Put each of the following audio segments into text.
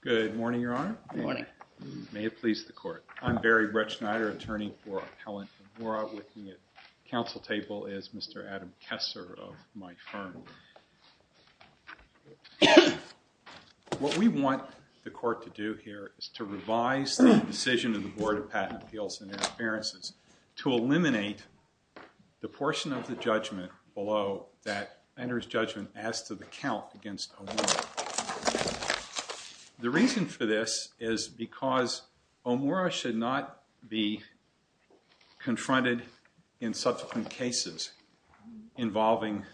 Good morning, Your Honor, and may it please the Court, I'm Barry Bretschneider, attorney for Appellant MUMURA, working at Council Table as Mr. Adam Kessler of my firm. What we want the Court to do here is to revise the decision of the Board of Patent Appeals and Interferences to eliminate the portion of the judgment below that enters judgment as to the count against OMURA. The reason for this is because OMURA should not be confronted in subsequent cases involving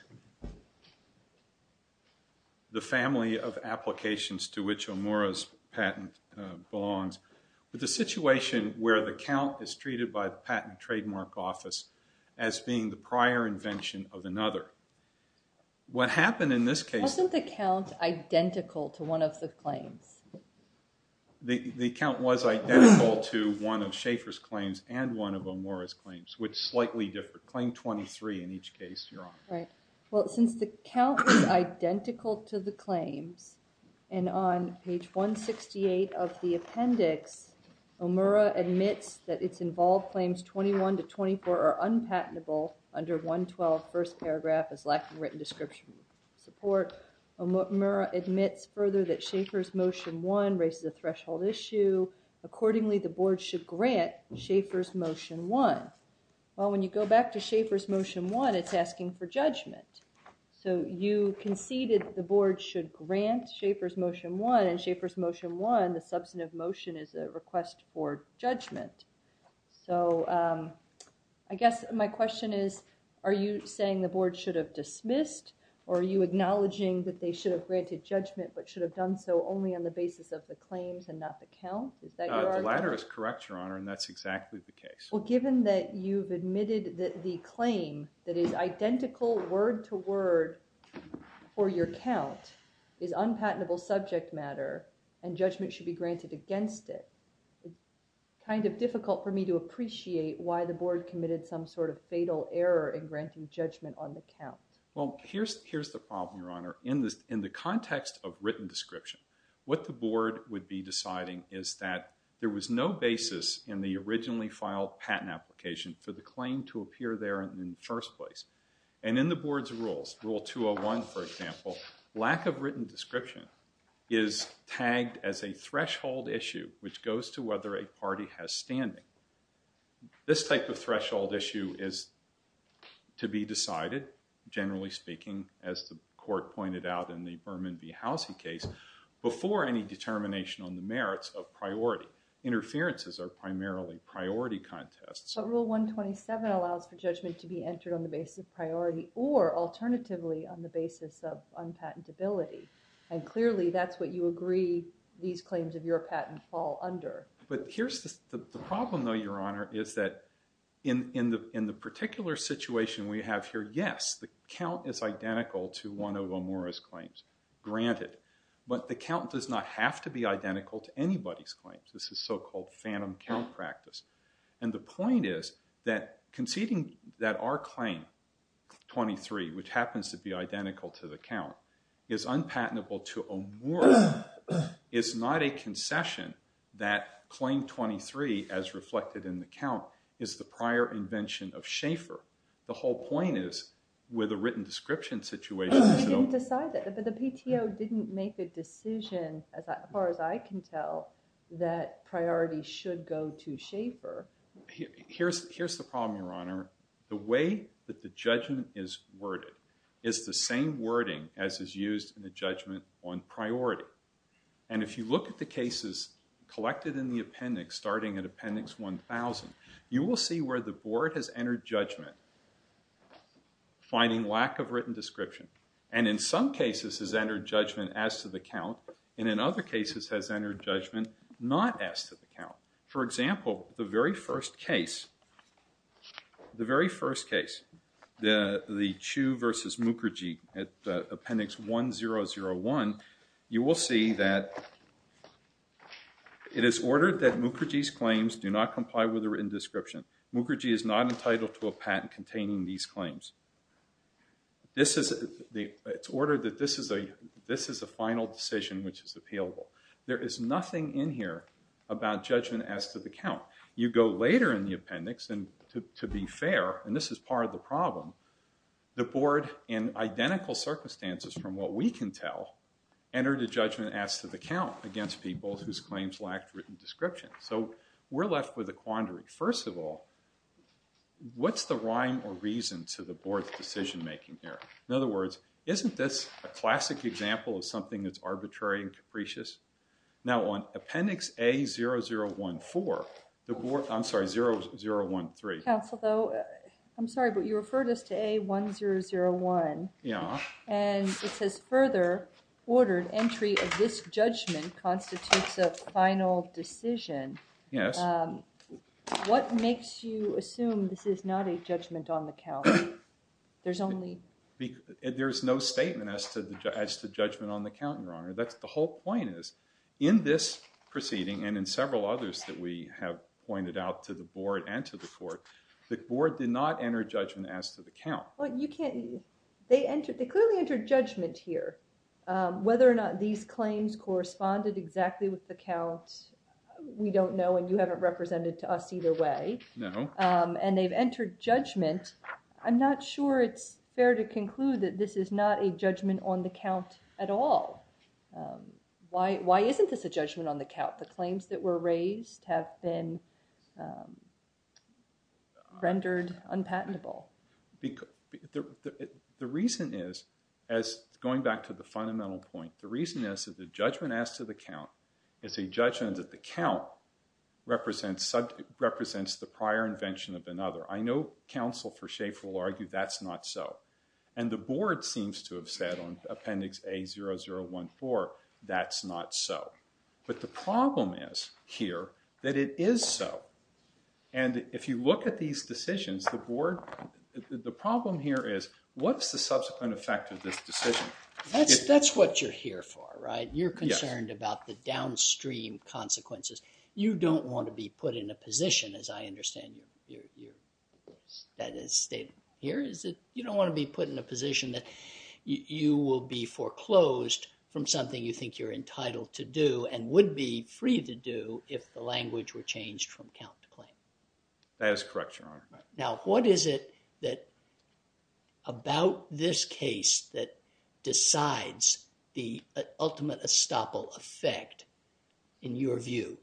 the family of applications to which OMURA's patent belongs with the situation where the count is treated by the Patent Trademark Office as being the prior invention of another. What happened in this case... MUMURA Wasn't the count identical to one of the claims? BRETSCHNEIDER The count was identical to one of Shafer's claims and one of OMURA's claims, which is slightly different. Claim 23 in each case, Your Honor. MUMURA Right. Well, since the count is identical to the claims, and on page 168 of the appendix, OMURA admits that its involved claims 21 to 24 are unpatentable under 112, first paragraph, as lacking written description and support. OMURA admits further that Shafer's Motion 1 raises a threshold issue. Accordingly, the Board should grant Shafer's Motion 1. Well, when you go back to Shafer's Motion 1, it's asking for judgment. So you conceded that the Board should grant Shafer's Motion 1, and Shafer's Motion 1, the substantive motion, is a request for judgment. So, I guess my question is, are you saying the Board should have dismissed, or are you acknowledging that they should have granted judgment but should have done so only on the basis of the claims and not the count? Is that your argument? BRETSCHNEIDER The latter is correct, Your Honor, and that's exactly the case. MUMURA Well, given that you've admitted that the claim that is identical word-to-word for your count is unpatentable subject matter and judgment should be granted against it, it's kind of difficult for me to appreciate why the Board committed some sort of fatal error in granting judgment on the count. BRETSCHNEIDER Well, here's the problem, Your Honor. In the context of written description, what the Board would be deciding is that there was no basis in the originally filed patent application for the claim to appear there in the first place. And in the Board's rules, Rule 201, for example, lack of written description is tagged as a threshold issue, which goes to whether a party has standing. This type of threshold issue is to be decided, generally speaking, as the Court pointed out in the Berman v. Housey case, before any determination on the merits of priority. Interferences are primarily priority contests. MUMURA But Rule 127 allows for judgment to be entered on the basis of priority or, alternatively, on the basis of unpatentability. And clearly, that's what you agree these claims of your patent fall under. BRETSCHNEIDER But here's the problem, though, Your Honor, is that in the particular situation we have here, yes, the count is identical to one of Omura's claims, granted. But the count does not have to be identical to anybody's claims. This is so-called phantom count practice. And the point is that conceding that our claim, 23, which happens to be identical to the count, is unpatentable to Omura, is not a concession that claim 23, as reflected in the count, is the prior invention of Schaefer. The whole point is, with a written description situation— MUMURA I didn't decide that, but the PTO didn't make the decision, as far as I can tell, that priority should go to Schaefer. BRETSCHNEIDER Here's the problem, Your Honor. The way that the judgment is worded is the same wording as is used in the judgment on priority. And if you look at the cases collected in the appendix, starting at Appendix 1000, you will see where the Board has entered judgment finding lack of written description. And in some cases has entered judgment as to the count, and in other cases has entered judgment not as to the count. For example, the very first case, the very first case, the Chu versus Mukherjee at Appendix 1001, you will see that it is ordered that Mukherjee's claims do not comply with the written description. Mukherjee is not entitled to a patent containing these claims. It's ordered that this is a final decision which is appealable. There is nothing in here about judgment as to the count. You go later in the appendix, and to be fair, and this is part of the problem, the Board, in identical circumstances from what we can tell, entered a judgment as to the count against people whose claims lacked written description. So we're left with a quandary. First of all, what's the rhyme or reason to the Board's decision-making here? In other words, isn't this a classic example of something that's arbitrary and capricious? Now on Appendix A0014, I'm sorry, 0013. Counsel, though, I'm sorry, but you referred us to A1001. Yeah. And it says further, ordered entry of this judgment constitutes a final decision. Yes. What makes you assume this is not a judgment on the count? There's only... There's no statement as to judgment on the count, Your Honor. The whole point is, in this proceeding and in several others that we have pointed out to the Board and to the Court, the Board did not enter judgment as to the count. But you can't... they clearly entered judgment here. Whether or not these claims corresponded exactly with the count, we don't know and you haven't represented to us either way. No. And they've entered judgment. I'm not sure it's fair to conclude that this is not a judgment on the count at all. Why isn't this a judgment on the count? The claims that were raised have been rendered unpatentable. The reason is, as going back to the fundamental point, the reason is that the judgment as to the count is a judgment that the count represents the prior invention of another. I know counsel for Schafer will argue that's not so. And the Board seems to have said on Appendix A-0014, that's not so. But the problem is here that it is so. And if you look at these decisions, the Board... the problem here is, what's the subsequent effect of this decision? That's what you're here for, right? Yes. You're concerned about the downstream consequences. You don't want to be put in a position, as I understand your... that is stated here, is it? You don't want to be put in a position that you will be foreclosed from something you think you're entitled to do and would be free to do if the language were changed from count to claim. That is correct, Your Honor. Now, what is it that... about this case that decides the ultimate estoppel effect in your view?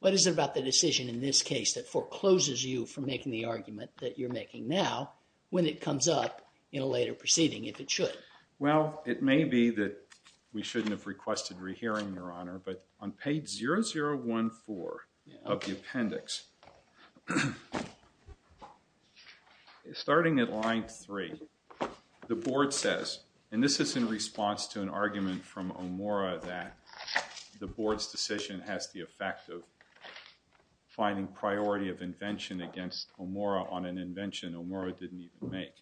What is it about the decision in this case that forecloses you from making the argument that you're making now when it comes up in a later proceeding, if it should? Well, it may be that we shouldn't have requested rehearing, Your Honor, but on page 0014 of the appendix, starting at line three, the Board says, and this is in response to an argument from Omora that the Board's decision has the effect of finding priority of invention against Omora on an invention Omora didn't even make.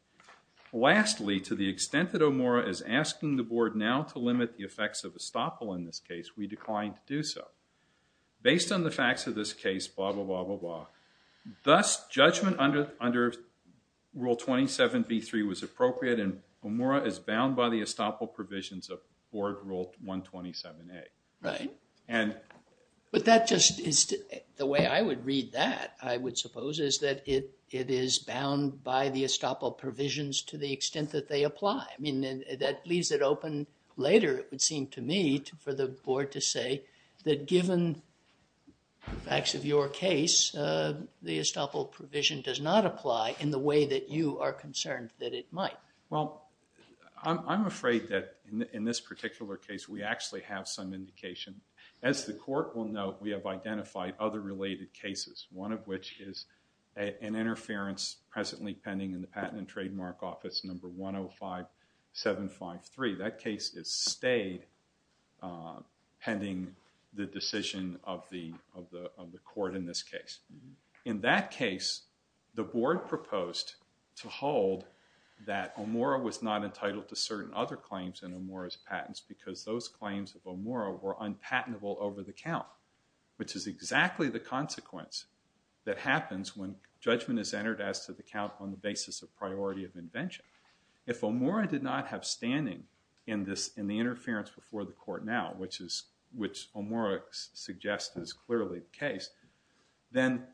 Lastly, to the extent that Omora is asking the Board now to limit the effects of estoppel in this case, we decline to do so. Based on the facts of this case, blah, blah, blah, blah, blah, thus judgment under Rule 27b-3 was appropriate and Omora is bound by the estoppel provisions of Board Rule 127a. Right. But that just is the way I would read that, I would suppose, is that it is bound by the estoppel provisions to the extent that they apply. I mean, that leaves it open later, it would seem to me, for the Board to say that given the facts of your case, the estoppel provision does not apply in the way that you are concerned that it might. Well, I'm afraid that in this particular case, we actually have some indication. As the Court will note, we have identified other related cases, one of which is an interference presently pending in the Patent and Trademark Office No. 105753. That case has stayed pending the decision of the Court in this case. In that case, the Board proposed to hold that Omora was not entitled to certain other claims in Omora's patents because those claims of Omora were unpatentable over the count, which is exactly the consequence that happens when judgment is entered as to the count on the basis of priority of invention. If Omora did not have standing in the interference before the Court now, which Omora suggests is clearly the case, then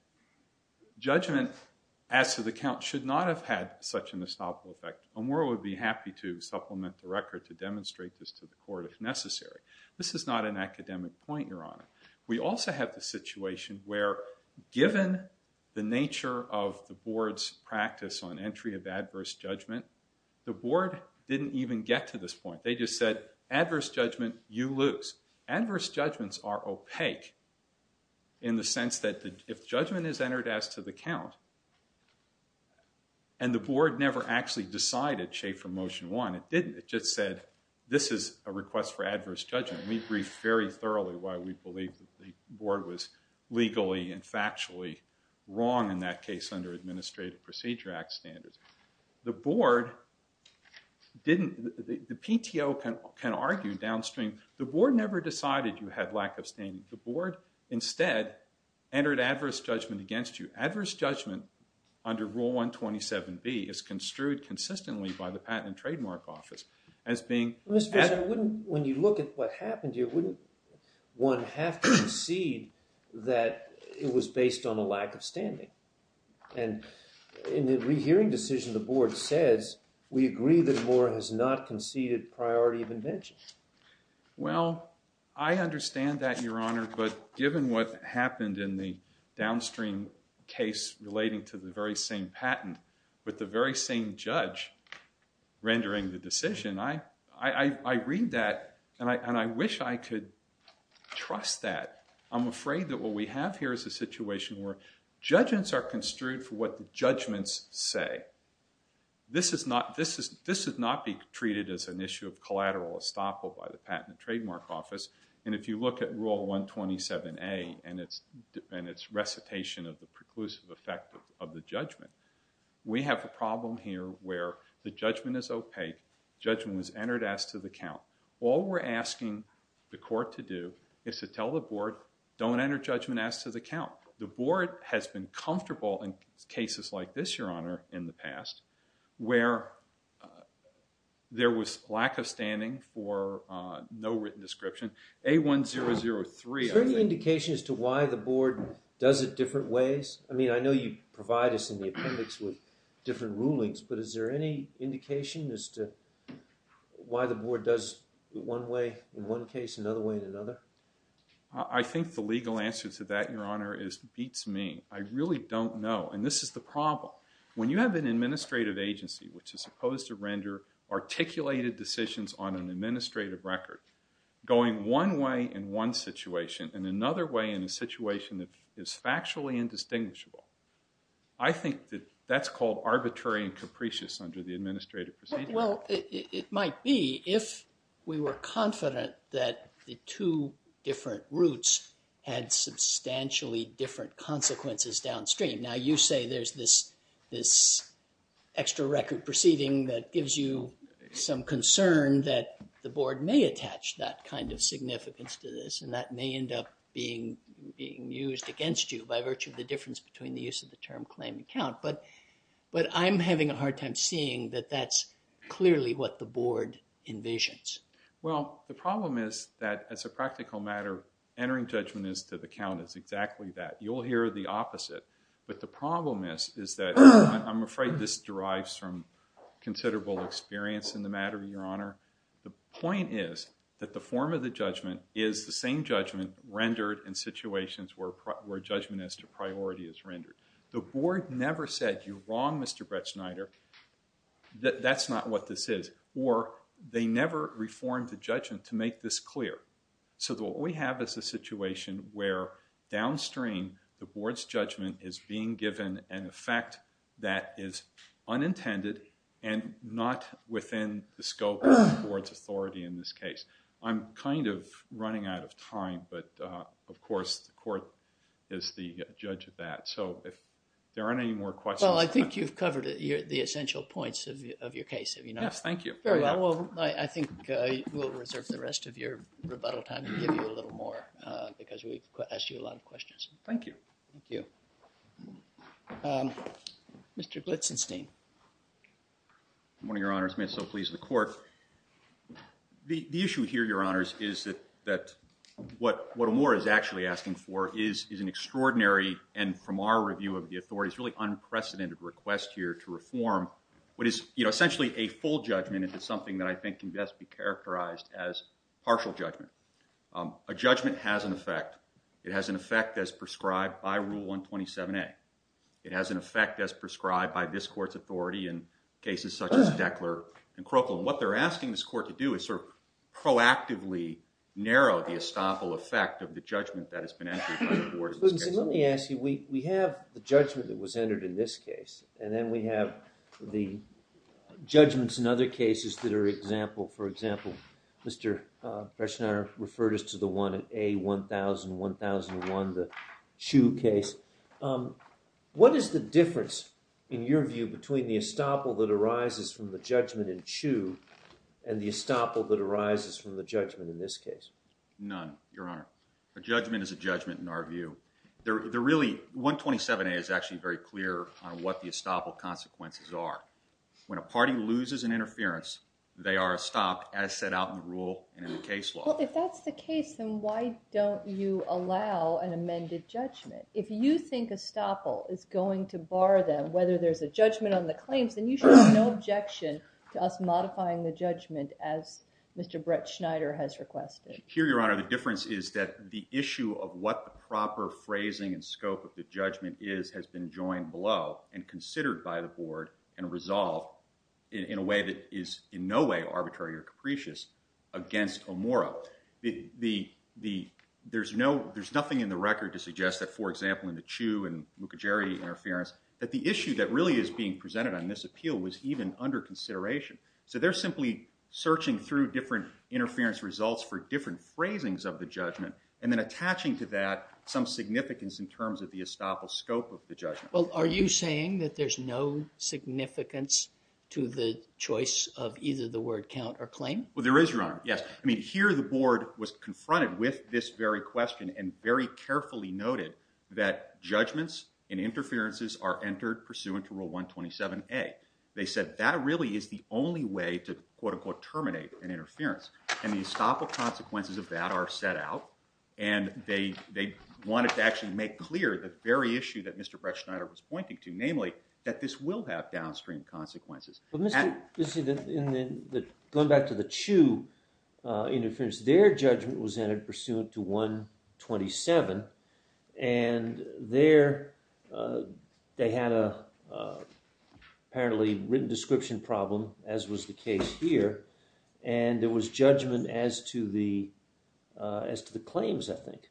judgment as to the count should not have had such an estoppel effect. Omora would be happy to supplement the record to demonstrate this to the Court if necessary. This is not an academic point, Your Honor. We also have the situation where given the nature of the Board's practice on entry of adverse judgment, the Board didn't even get to this point. They just said, adverse judgment, you lose. Adverse judgments are opaque in the sense that if judgment is entered as to the count and the Board never actually decided, shape or motion one, it didn't. It just said, this is a request for adverse judgment. Let me brief very thoroughly why we believe that the Board was legally and factually wrong in that case under Administrative Procedure Act standards. The Board didn't, the PTO can argue downstream, the Board never decided you had lack of standing. The Board instead entered adverse judgment against you. Adverse judgment under Rule 127B is construed consistently by the Patent and Trademark Office as being... Mr. Bishop, when you look at what happened here, wouldn't one have to concede that it was based on a lack of standing? And in the rehearing decision, the Board says, we agree that Moore has not conceded priority of invention. Well, I understand that, Your Honor, but given what happened in the downstream case relating to the very same patent with the very same judge rendering the decision, I read that and I wish I could trust that. I'm afraid that what we have here is a situation where judgments are construed for what the judgments say. This is not being treated as an issue of collateral estoppel by the Patent and Trademark Office. And if you look at Rule 127A and its recitation of the preclusive effect of the judgment, we have a problem here where the judgment is opaque, judgment was entered as to the count. All we're asking the court to do is to tell the Board, don't enter judgment as to the count. The Board has been comfortable in cases like this, Your Honor, in the past, where there was lack of standing for no written description. A1003, I think... Is there any indication as to why the Board does it different ways? I mean, I know you provide us in the appendix with different rulings, but is there any indication as to why the Board does it one way in one case, another way in another? I think the legal answer to that, Your Honor, beats me. I really don't know. And this is the problem. When you have an administrative agency which is supposed to render articulated decisions on an administrative record, going one way in one situation and another way in a situation that is factually indistinguishable, I think that that's called arbitrary and capricious under the administrative procedure. Well, it might be if we were confident that the two different routes had substantially different consequences downstream. Now, you say there's this extra record proceeding that gives you some concern that the Board may attach that kind of significance to this, and that may end up being used against you by virtue of the difference between the use of the term claim and count. But I'm having a hard time seeing that that's clearly what the Board envisions. Well, the problem is that as a practical matter, entering judgment as to the count is exactly that. You'll hear the opposite. But the problem is that I'm afraid this derives from considerable experience in the matter, Your Honor. The point is that the form of the judgment is the same judgment rendered in situations where judgment as to priority is rendered. The Board never said, You're wrong, Mr. Bretschneider. That's not what this is. Or they never reformed the judgment to make this clear. So what we have is a situation where downstream, the Board's judgment is being given an effect that is unintended and not within the scope of the Board's authority in this case. I'm kind of running out of time. But, of course, the Court is the judge of that. So if there aren't any more questions. Well, I think you've covered the essential points of your case. Have you not? Yes, thank you. Very well. Well, I think we'll reserve the rest of your rebuttal time to give you a little more because we've asked you a lot of questions. Thank you. Thank you. Mr. Glitzenstein. Good morning, Your Honors. May it so please the Court. The issue here, Your Honors, is that what Amor is actually asking for is an extraordinary and, from our review of the authorities, really unprecedented request here to reform what is essentially a full judgment into something that I think can best be characterized as partial judgment. A judgment has an effect. It has an effect as prescribed by Rule 127A. It has an effect as prescribed by this Court's authority in cases such as Dechler and Crokland. What they're asking this Court to do is sort of proactively narrow the estoppel effect of the judgment that has been entered by the Board in this case. Mr. Glitzenstein, let me ask you. We have the judgment that was entered in this case, and then we have the judgments in other cases that are example. For example, Mr. Ferschneider referred us to the one at A1000-1001, the Chu case. What is the difference, in your view, between the estoppel that arises from the judgment in Chu and the estoppel that arises from the judgment in this case? None, Your Honor. A judgment is a judgment in our view. Really, 127A is actually very clear on what the estoppel consequences are. When a party loses an interference, they are estopped, as set out in the rule and in the case law. Well, if that's the case, then why don't you allow an amended judgment? If you think estoppel is going to bar them, whether there's a judgment on the claims, then you should have no objection to us modifying the judgment as Mr. Brett Schneider has requested. Here, Your Honor, the difference is that the issue of what the proper phrasing and scope of the judgment is has been joined below and considered by the Board and resolved in a way that is in no way arbitrary or capricious against OMURO. There's nothing in the record to suggest that, for example, in the Chu and Mukherjee interference, that the issue that really is being presented on this appeal was even under consideration. So they're simply searching through different interference results for different phrasings of the judgment and then attaching to that some significance in terms of the estoppel scope of the judgment. Well, are you saying that there's no significance to the choice of either the word count or claim? Well, there is, Your Honor, yes. I mean, here the Board was confronted with this very question and very carefully noted that judgments and interferences are entered pursuant to Rule 127A. They said that really is the only way to, quote-unquote, terminate an interference, and the estoppel consequences of that are set out, and they wanted to actually make clear the very issue that Mr. Brett Schneider was pointing to, namely that this will have downstream consequences. Going back to the Chu interference, their judgment was entered pursuant to 127, and they had an apparently written description problem, as was the case here, and there was judgment as to the claims, I think.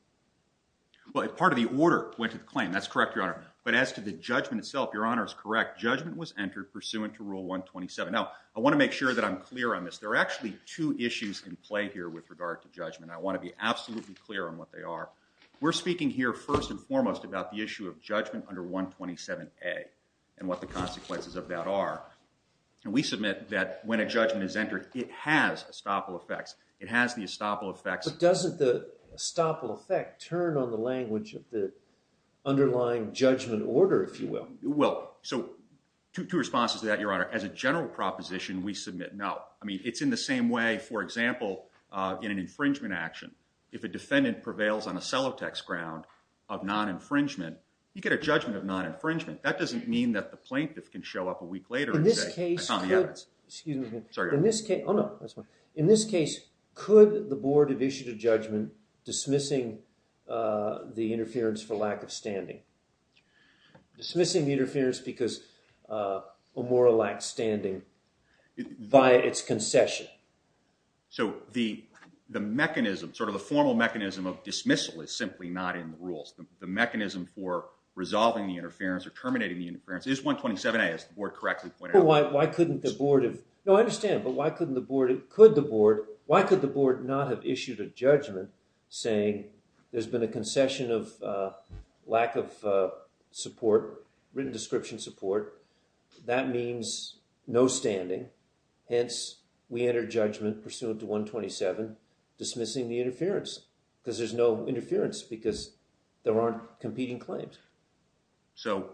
Well, part of the order went to the claim. That's correct, Your Honor. But as to the judgment itself, Your Honor, it's correct. The judgment was entered pursuant to Rule 127. Now, I want to make sure that I'm clear on this. There are actually two issues in play here with regard to judgment, and I want to be absolutely clear on what they are. We're speaking here first and foremost about the issue of judgment under 127A and what the consequences of that are, and we submit that when a judgment is entered, it has estoppel effects. It has the estoppel effects. But doesn't the estoppel effect turn on the language of the underlying judgment order, if you will? Well, so two responses to that, Your Honor. As a general proposition, we submit no. I mean, it's in the same way, for example, in an infringement action. If a defendant prevails on a cellotex ground of non-infringement, you get a judgment of non-infringement. That doesn't mean that the plaintiff can show up a week later and say, I found the evidence. Excuse me. Sorry. In this case, could the board have issued a judgment dismissing the interference for lack of standing? Dismissing the interference because Amora lacked standing via its concession. So the mechanism, sort of the formal mechanism of dismissal is simply not in the rules. The mechanism for resolving the interference or terminating the interference is 127A, as the board correctly pointed out. Well, why couldn't the board have... No, I understand. But why couldn't the board... Could the board... Why could the board not have issued a judgment saying there's been a concession of lack of support, written description support. That means no standing. Hence, we enter judgment pursuant to 127, dismissing the interference because there's no interference because there aren't competing claims. So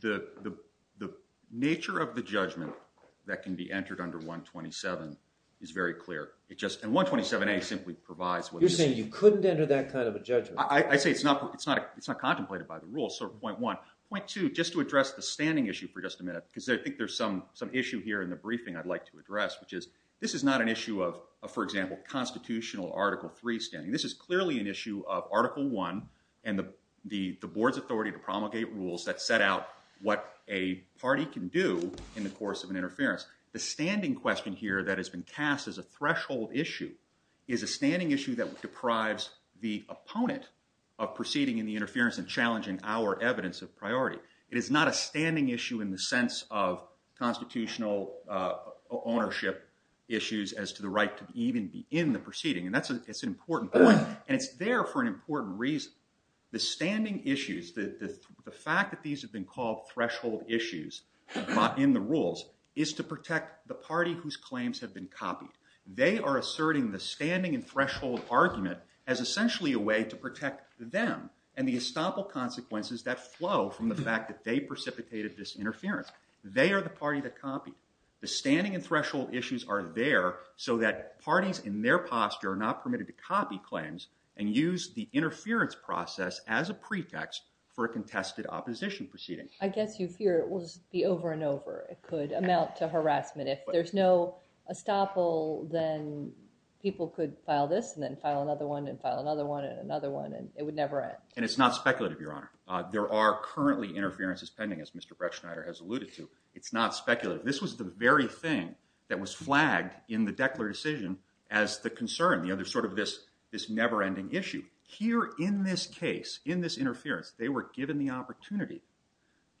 the nature of the judgment that can be entered under 127 is very clear. And 127A simply provides... You're saying you couldn't enter that kind of a judgment. I say it's not contemplated by the rules. So point one. Point two, just to address the standing issue for just a minute, because I think there's some issue here in the briefing I'd like to address, which is this is not an issue of, for example, constitutional Article III standing. This is clearly an issue of Article I and the board's authority to promulgate rules that set out what a party can do in the course of an interference. The standing question here that has been cast as a threshold issue is a standing issue that deprives the opponent of proceeding in the interference and challenging our evidence of priority. It is not a standing issue in the sense of constitutional ownership issues as to the right to even be in the proceeding. And that's an important point. And it's there for an important reason. The standing issues, the fact that these have been called threshold issues in the rules is to protect the party whose claims have been copied. They are asserting the standing and threshold argument as essentially a way to protect them and the estoppel consequences that flow from the fact that they precipitated this interference. They are the party that copied. The standing and threshold issues are there so that parties in their posture are not permitted to copy claims and use the interference process as a pretext for a contested opposition proceeding. I guess you fear it will just be over and over. It could amount to harassment. If there's no estoppel, then people could file this and then file another one and file another one and another one, and it would never end. And it's not speculative, Your Honor. There are currently interferences pending, as Mr. Bretschneider has alluded to. It's not speculative. This was the very thing that was flagged in the Declarer decision as the concern, the other sort of this never-ending issue. Here in this case, in this interference, they were given the opportunity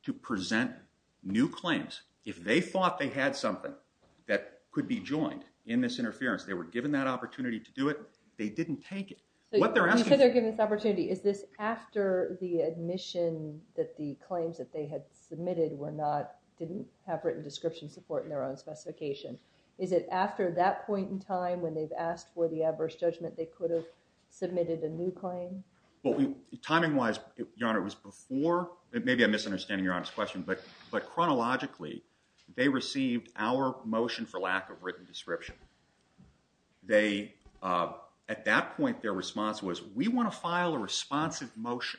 to present new claims. If they thought they had something that could be joined in this interference, they were given that opportunity to do it. They didn't take it. What they're asking... You say they're given this opportunity. Is this after the admission that the claims that they had submitted were not, didn't have written description support in their own specification? Is it after that point in time when they've asked for the adverse judgment they could have submitted a new claim? Well, timing-wise, Your Honor, it was before... Maybe I'm misunderstanding Your Honor's question, but chronologically, they received our motion for lack of written description. They... At that point, their response was, we want to file a responsive motion,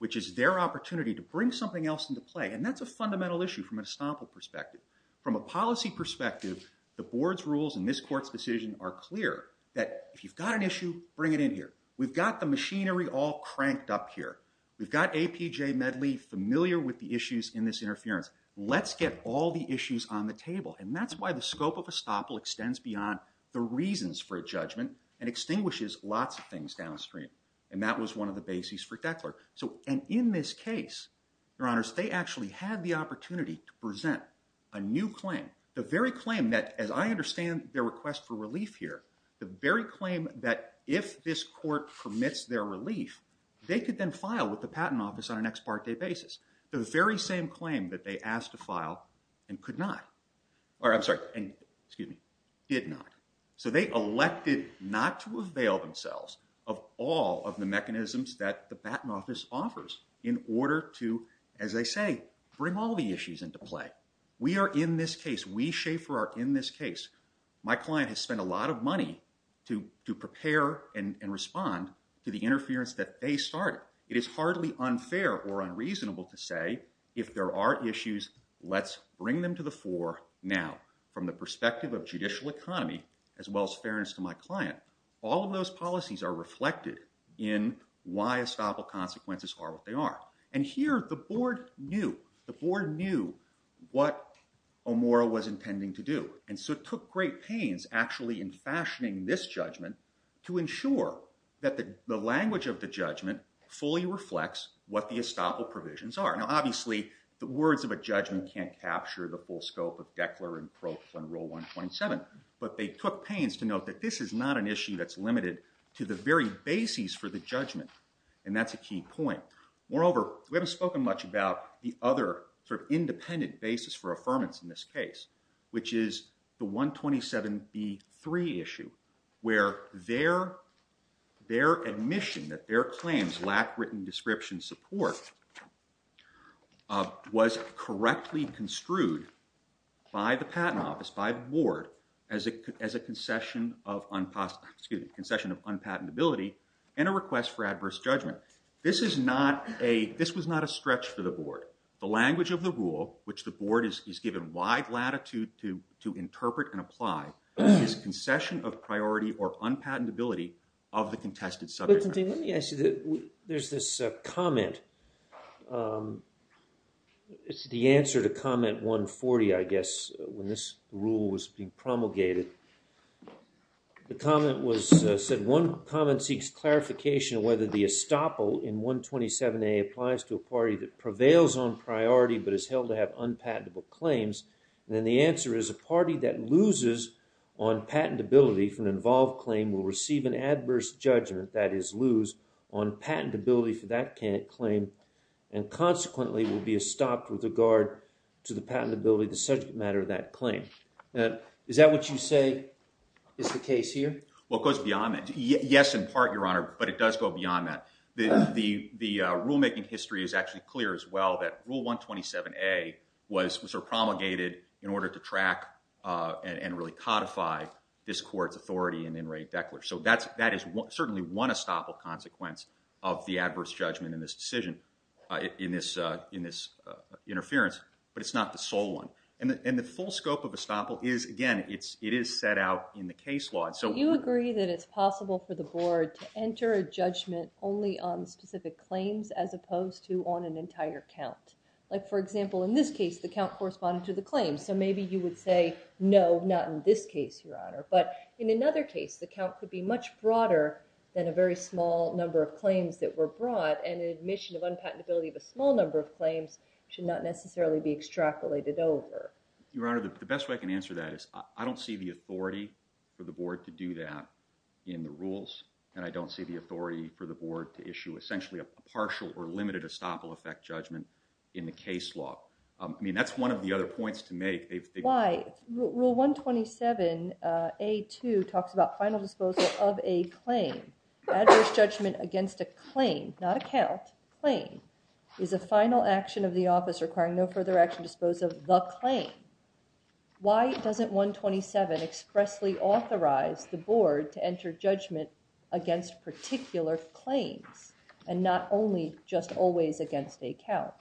which is their opportunity to bring something else into play. And that's a fundamental issue from an estoppel perspective. From a policy perspective, the board's rules and this court's decision are clear that if you've got an issue, bring it in here. We've got the machinery all cranked up here. We've got APJ Medley familiar with the issues in this interference. Let's get all the issues on the table. And that's why the scope of estoppel extends beyond the reasons for a judgment and extinguishes lots of things downstream. And that was one of the bases for Deckler. So, and in this case, Your Honors, they actually had the opportunity to present a new claim. The very claim that, as I understand their request for relief here, the very claim that if this court permits their relief, they could then file with the Patent Office on an ex parte basis. The very same claim that they asked to file and could not, or I'm sorry, excuse me, did not. So they elected not to avail themselves of all of the mechanisms that the Patent Office offers in order to, as they say, bring all the issues into play. We are in this case. We, Schaefer, are in this case. My client has spent a lot of money to prepare and respond to the interference that they started. It is hardly unfair or unreasonable to say, if there are issues, let's bring them to the fore now from the perspective of judicial economy as well as fairness to my client. All of those policies are reflected in why estoppel consequences are what they are. And here the board knew, the board knew what Omura was intending to do. And so it took great pains actually in fashioning this judgment to ensure that the language of the judgment fully reflects what the estoppel provisions are. Now obviously, the words of a judgment can't capture the full scope of Deckler and Probst and Rule 1.7. But they took pains to note that this is not an issue that's limited to the very basis for the judgment. And that's a key point. Moreover, we haven't spoken much about the other sort of independent basis for affirmance in this case, which is the 127B3 issue where their admission that their claims lack written description support was correctly construed by the patent office, by the board, as a concession of unpatentability and a request for adverse judgment. This was not a stretch for the board. The language of the rule, which the board is given wide latitude to interpret and apply, is concession of priority or unpatentability of the contested subject. Let me ask you, there's this comment. It's the answer to comment 140, I guess, when this rule was being promulgated. The comment was said, one comment seeks clarification whether the estoppel in 127A applies to a party that prevails on priority but is held to have unpatentable claims. And then the answer is a party that loses on patentability from an involved claim will receive an adverse judgment, that is lose, on patentability for that claim and consequently will be estopped with regard to the patentability of the subject matter of that claim. Is that what you say is the case here? Well, it goes beyond that. Yes, in part, Your Honor, but it does go beyond that. The rulemaking history is actually clear as well that rule 127A was promulgated in order to track and really codify this court's authority in In Re Declar. So that is certainly one estoppel consequence of the adverse judgment in this decision, in this interference, but it's not the sole one. And the full scope of estoppel is, again, it is set out in the case law. So you agree that it's possible for the board to enter a judgment only on specific claims as opposed to on an entire count. Like, for example, in this case, the count corresponded to the claim. So maybe you would say, no, not in this case, Your Honor. But in another case, the count could be much broader than a very small number of claims that were brought and an admission of unpatentability of a small number of claims should not necessarily be extrapolated over. Your Honor, the best way I can answer that is I don't see the authority for the board to do that in the rules and I don't see the authority for the board to issue essentially a partial or limited estoppel effect judgment in the case law. I mean, that's one of the other points to make. Why? Rule 127A2 talks about final disposal of a claim. Adverse judgment against a claim, not a count, claim, is a final action of the office requiring no further action to dispose of the claim. Why doesn't 127 expressly authorize the board to enter judgment against particular claims and not only just always against a count?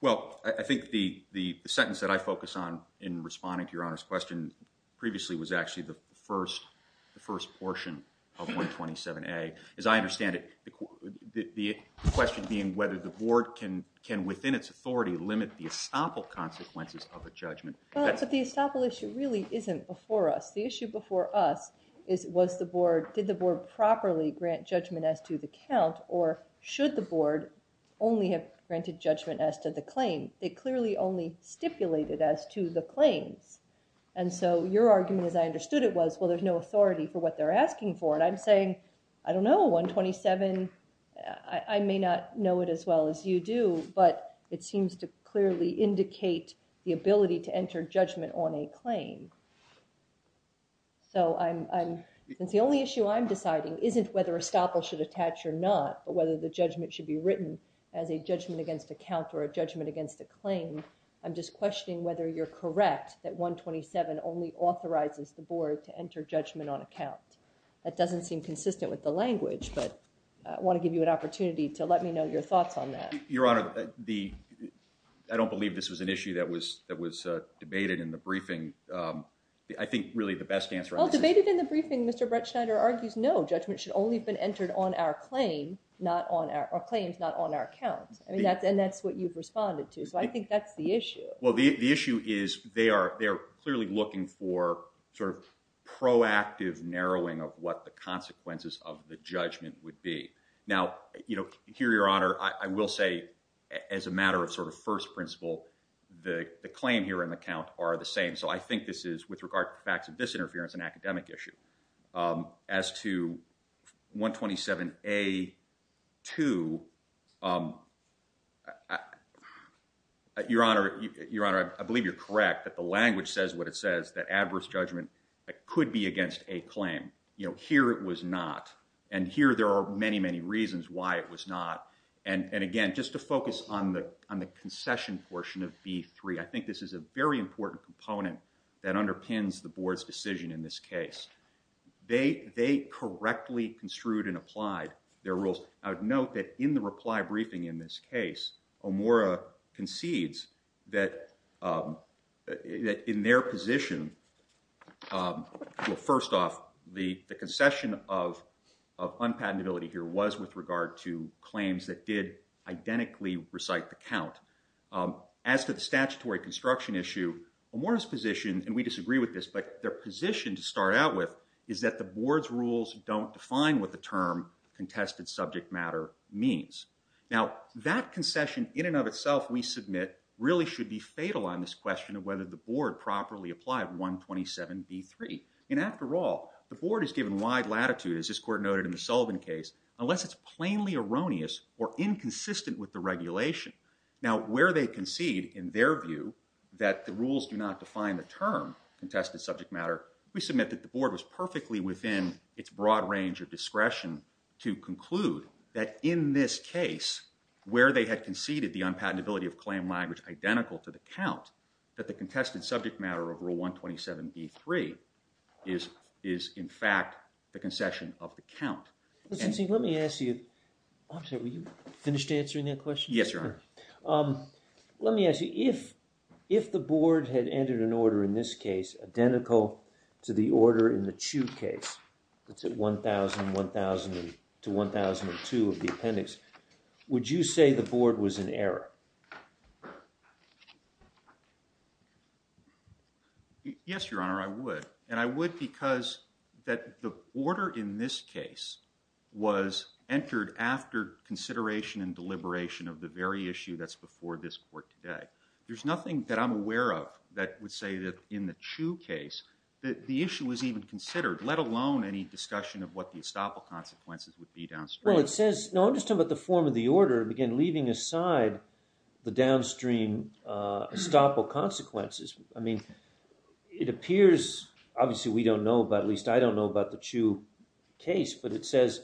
Well, I think the sentence that I focus on in responding to Your Honor's question previously was actually the first portion of 127A. As I understand it, the question being whether the board can within its authority limit the estoppel consequences of a judgment. Well, so the estoppel issue really isn't before us. The issue before us is was the board, did the board properly grant judgment as to the count or should the board only have granted judgment as to the claim? They clearly only stipulated as to the claims and so your argument as I understood it was, well, there's no authority for what they're asking for and I'm saying, I don't know, 127, I may not know it as well as you do, but it seems to clearly indicate the ability to enter judgment on a claim. So since the only issue I'm deciding isn't whether estoppel should attach or not or whether the judgment should be written as a judgment against a count or a judgment against a claim, I'm just questioning whether you're correct that 127 only authorizes the board to enter judgment on a count. That doesn't seem consistent with the language, but I want to give you an opportunity to let me know your thoughts on that. Your Honor, I don't believe this was an issue that was debated in the briefing. I think really the best answer on this is... Well, debated in the briefing, Mr. Brettschneider argues no, judgment should only have been entered on our claim, not on our claims, not on our counts and that's what you've responded to, so I think that's the issue. Well, the issue is they are clearly looking for sort of proactive narrowing of what the consequences of the judgment would be. Now, you know, here Your Honor, I will say as a matter of sort of first principle, the claim here and the count are the same, so I think this is, with regard to the facts of disinterference, an academic issue. As to 127A2, Your Honor, I believe you're correct that the language says what it says, that adverse judgment could be against a claim. You know, here it was not and here there are many, many reasons why it was not and again, just to focus on the concession portion of B3, I think this is a very important component that underpins the board's decision in this case. They correctly construed and applied their rules. I would note that in the reply briefing in this case, Omura concedes that in their position, well, first off, the concession of unpatentability here was with regard to claims that did identically recite the count. As to the statutory construction issue, Omura's position, and we disagree with this, but their position to start out with is that the board's rules don't define what the term contested subject matter means. Now, that concession in and of itself, we submit, really should be fatal on this question of whether the board properly applied 127B3 and after all, the board is given wide latitude, as this court noted in the Sullivan case, unless it's plainly erroneous or inconsistent with the regulation. Now, where they concede in their view that the rules do not define the term contested subject matter, we submit that the board was perfectly within its broad range of discretion to conclude that in this case, where they had conceded the unpatentability of claim language identical to the count, that the contested subject matter of rule 127B3 is in fact the concession of the count. Let me ask you, were you finished answering that question? Yes, Your Honor. Let me ask you, if the board had entered an order in this case identical to the order in the Chu case, that's at 1000, 1000 to 1002 of the appendix, would you say the board was in error? Yes, Your Honor, I would. And I would because the order in this case was entered after consideration and deliberation of the very issue that's before this court today. There's nothing that I'm aware of that would say that in the Chu case that the issue was even considered, let alone any discussion of what the estoppel consequences would be downstream. Well, it says... No, I'm just talking about the form of the order, again, leaving aside the downstream estoppel consequences. I mean, it appears... Obviously, we don't know, but at least I don't know about the Chu case, but it says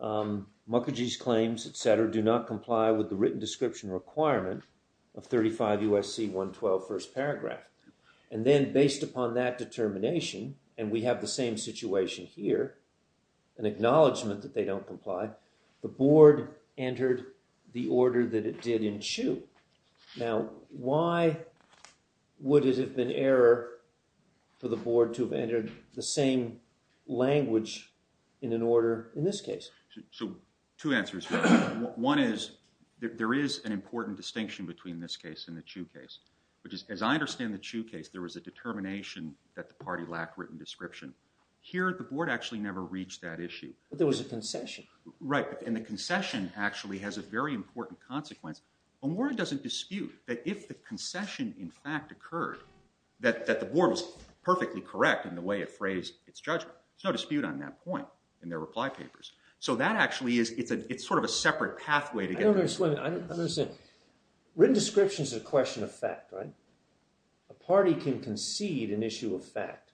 Mukherjee's claims, etc., do not comply with the written description requirement of 35 U.S.C. 112, first paragraph. And then, based upon that determination, and we have the same situation here, an acknowledgement that they don't comply, the board entered the order that it did in Chu. Now, why would it have been error for the board to have entered the same language in an order in this case? So, two answers here. One is, there is an important distinction between this case and the Chu case, which is, as I understand the Chu case, there was a determination that the party lacked written description. Here, the board actually never reached that issue. But there was a concession. Right, and the concession actually has a very important consequence. O'Mara doesn't dispute that if the concession, in fact, occurred, that the board was perfectly correct in the way it phrased its judgment. There's no dispute on that point in their reply papers. So, that actually is, it's sort of a separate pathway to get there. I don't understand. Written description is a question of fact, right? A party can concede an issue of fact.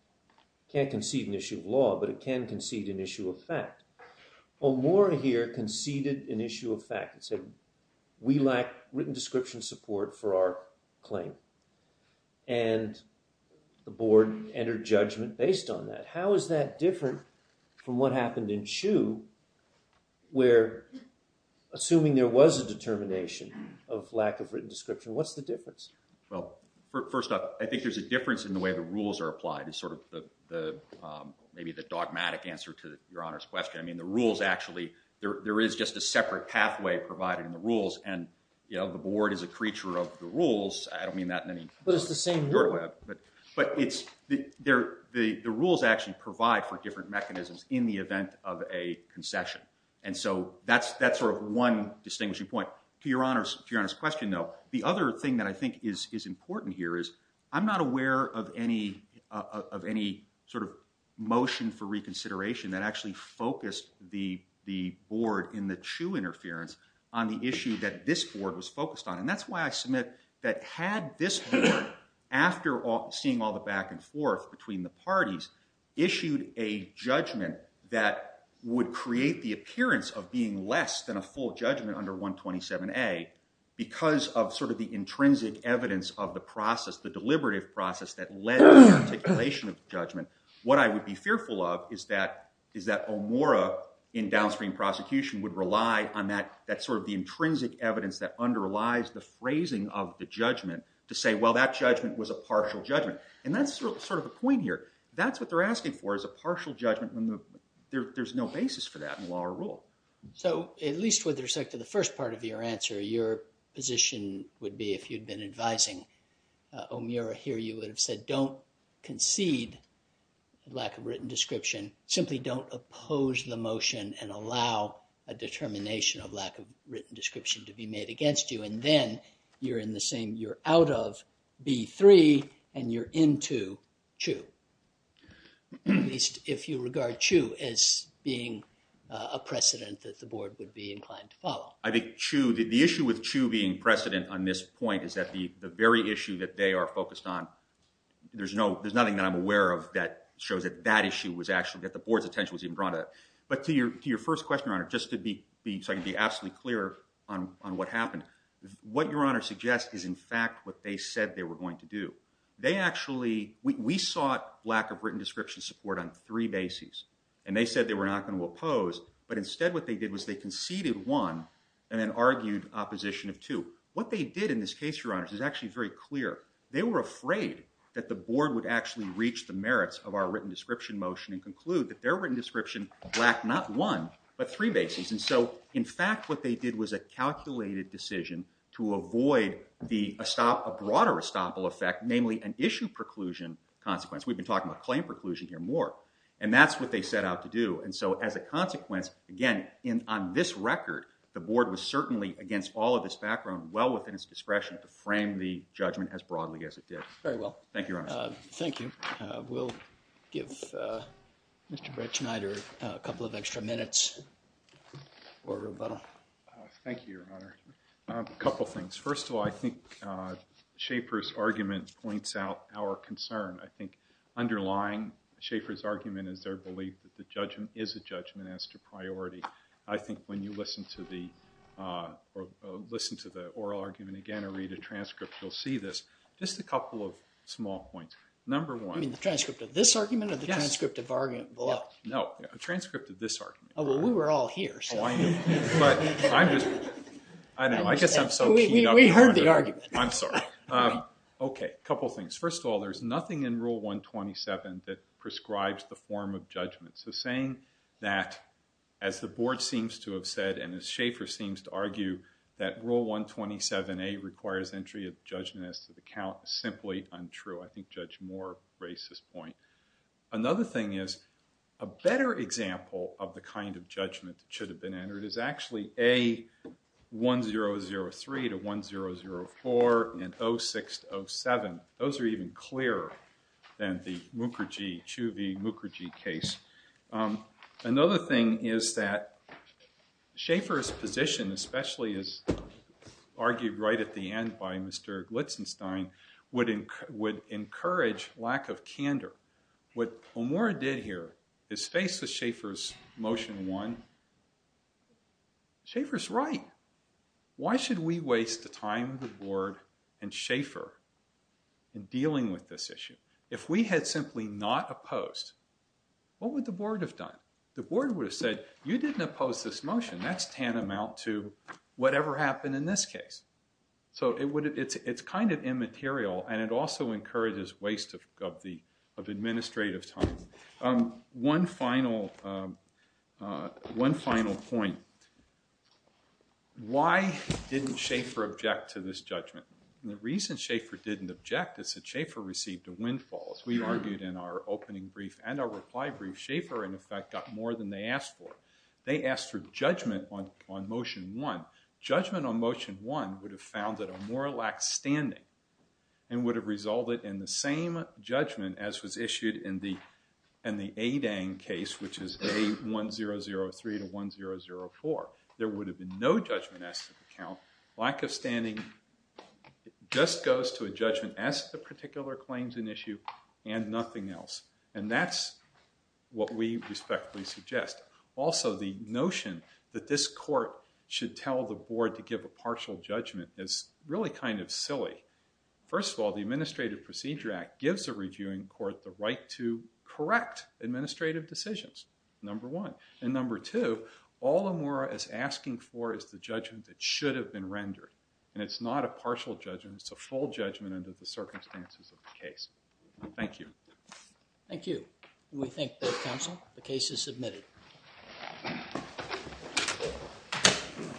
It can't concede an issue of law, but it can concede an issue of fact. O'Mara here conceded an issue of fact. It said, we lack written description support for our claim. And the board entered judgment based on that. How is that different from what happened in Chu, where, assuming there was a determination of lack of written description, what's the difference? Well, first off, I think there's a difference in the way the rules are applied. It's sort of the, maybe the dogmatic answer to Your Honor's question. I mean, the rules actually, there is just a separate pathway provided in the rules. And, you know, the board is a creature of the rules. I don't mean that in any... But it's the same rule. But the rules actually provide for different mechanisms in the event of a concession. And so that's sort of one distinguishing point. To Your Honor's question, though, the other thing that I think is important here is I'm not aware of any sort of motion for reconsideration that actually focused the board in the Chu interference on the issue that this board was focused on. And that's why I submit that had this board, after seeing all the back-and-forth between the parties, issued a judgment that would create the appearance of being less than a full judgment under 127A, because of sort of the intrinsic evidence of the process, the deliberative process, that led to the articulation of the judgment, what I would be fearful of is that Omura, in downstream prosecution, would rely on that sort of the intrinsic evidence that underlies the phrasing of the judgment to say, well, that judgment was a partial judgment. And that's sort of the point here. That's what they're asking for, is a partial judgment. There's no basis for that in law or rule. So, at least with respect to the first part of your answer, your position would be, if you'd been advising Omura here, you would have said, don't concede lack of written description. Simply don't oppose the motion and allow a determination of lack of written description to be made against you. And then you're in the same, you're out of B3 and you're into Chu. At least if you regard Chu as being a precedent that the board would be inclined to follow. I think Chu, the issue with Chu being precedent on this point is that the very issue that they are focused on, there's nothing that I'm aware of that shows that that issue was actually, But to your first question, Your Honor, just to be absolutely clear on what happened, what Your Honor suggests is in fact what they said they were going to do. They actually, we sought lack of written description support on three bases and they said they were not going to oppose, but instead what they did was they conceded one and then argued opposition of two. What they did in this case, Your Honor, is actually very clear. They were afraid that the board would actually reach the merits of our written description motion and conclude that their written description lacked not one, but three bases. And so in fact what they did was a calculated decision to avoid a broader estoppel effect, namely an issue preclusion consequence. We've been talking about claim preclusion here more and that's what they set out to do. And so as a consequence, again, on this record, the board was certainly against all of this background well within its discretion to frame the judgment as broadly as it did. Very well. Thank you, Your Honor. Thank you. We'll give Mr. Brett Schneider a couple of extra minutes for rebuttal. Thank you, Your Honor. A couple of things. First of all, I think Schaefer's argument points out our concern. I think underlying Schaefer's argument is their belief that the judgment is a judgment as to priority. I think when you listen to the oral argument again or read a transcript, you'll see this. Just a couple of small points. Number one. You mean the transcript of this argument or the transcript of the argument below? No, the transcript of this argument. Oh, well, we were all here. Oh, I knew. But I'm just... I don't know. I guess I'm so keyed up. We heard the argument. I'm sorry. Okay. A couple of things. First of all, there's nothing in Rule 127 that prescribes the form of judgment. So saying that, as the board seems to have said and as Schaefer seems to argue, that Rule 127A requires entry of judgment as to the count is simply untrue. I think Judge Moore raised this point. Another thing is a better example of the kind of judgment that should have been entered is actually A1003 to 1004 and 06 to 07. Those are even clearer than the Mukherjee, Chu v. Mukherjee case. Another thing is that Schaefer's position, especially as argued right at the end by Mr. Glitzenstein, would encourage lack of candor. What Omura did here is face the Schaefer's Motion 1. Schaefer's right. Why should we waste the time of the board and Schaefer in dealing with this issue? If we had simply not opposed, what would the board have done? The board would have said, you didn't oppose this motion. That's tantamount to whatever happened in this case. So it's kind of immaterial, and it also encourages waste of administrative time. One final point. Why didn't Schaefer object to this judgment? And the reason Schaefer didn't object is that Schaefer received a windfall. As we argued in our opening brief and our reply brief, Schaefer, in effect, got more than they asked for. They asked for judgment on Motion 1. Judgment on Motion 1 would have found that Omura lacked standing and would have resulted in the same judgment as was issued in the Adang case, which is A1003 to 1004. There would have been no judgment as to the count. Lack of standing just goes to a judgment as to the particular claims in issue and nothing else. And that's what we respectfully suggest. Also, the notion that this court should tell the board to give a partial judgment is really kind of silly. First of all, the Administrative Procedure Act gives a reviewing court the right to correct administrative decisions, number one. And number two, all Omura is asking for is the judgment that should have been rendered. And it's not a partial judgment. It's a full judgment under the circumstances of the case. Thank you. Thank you. We thank both counsel. The case is submitted.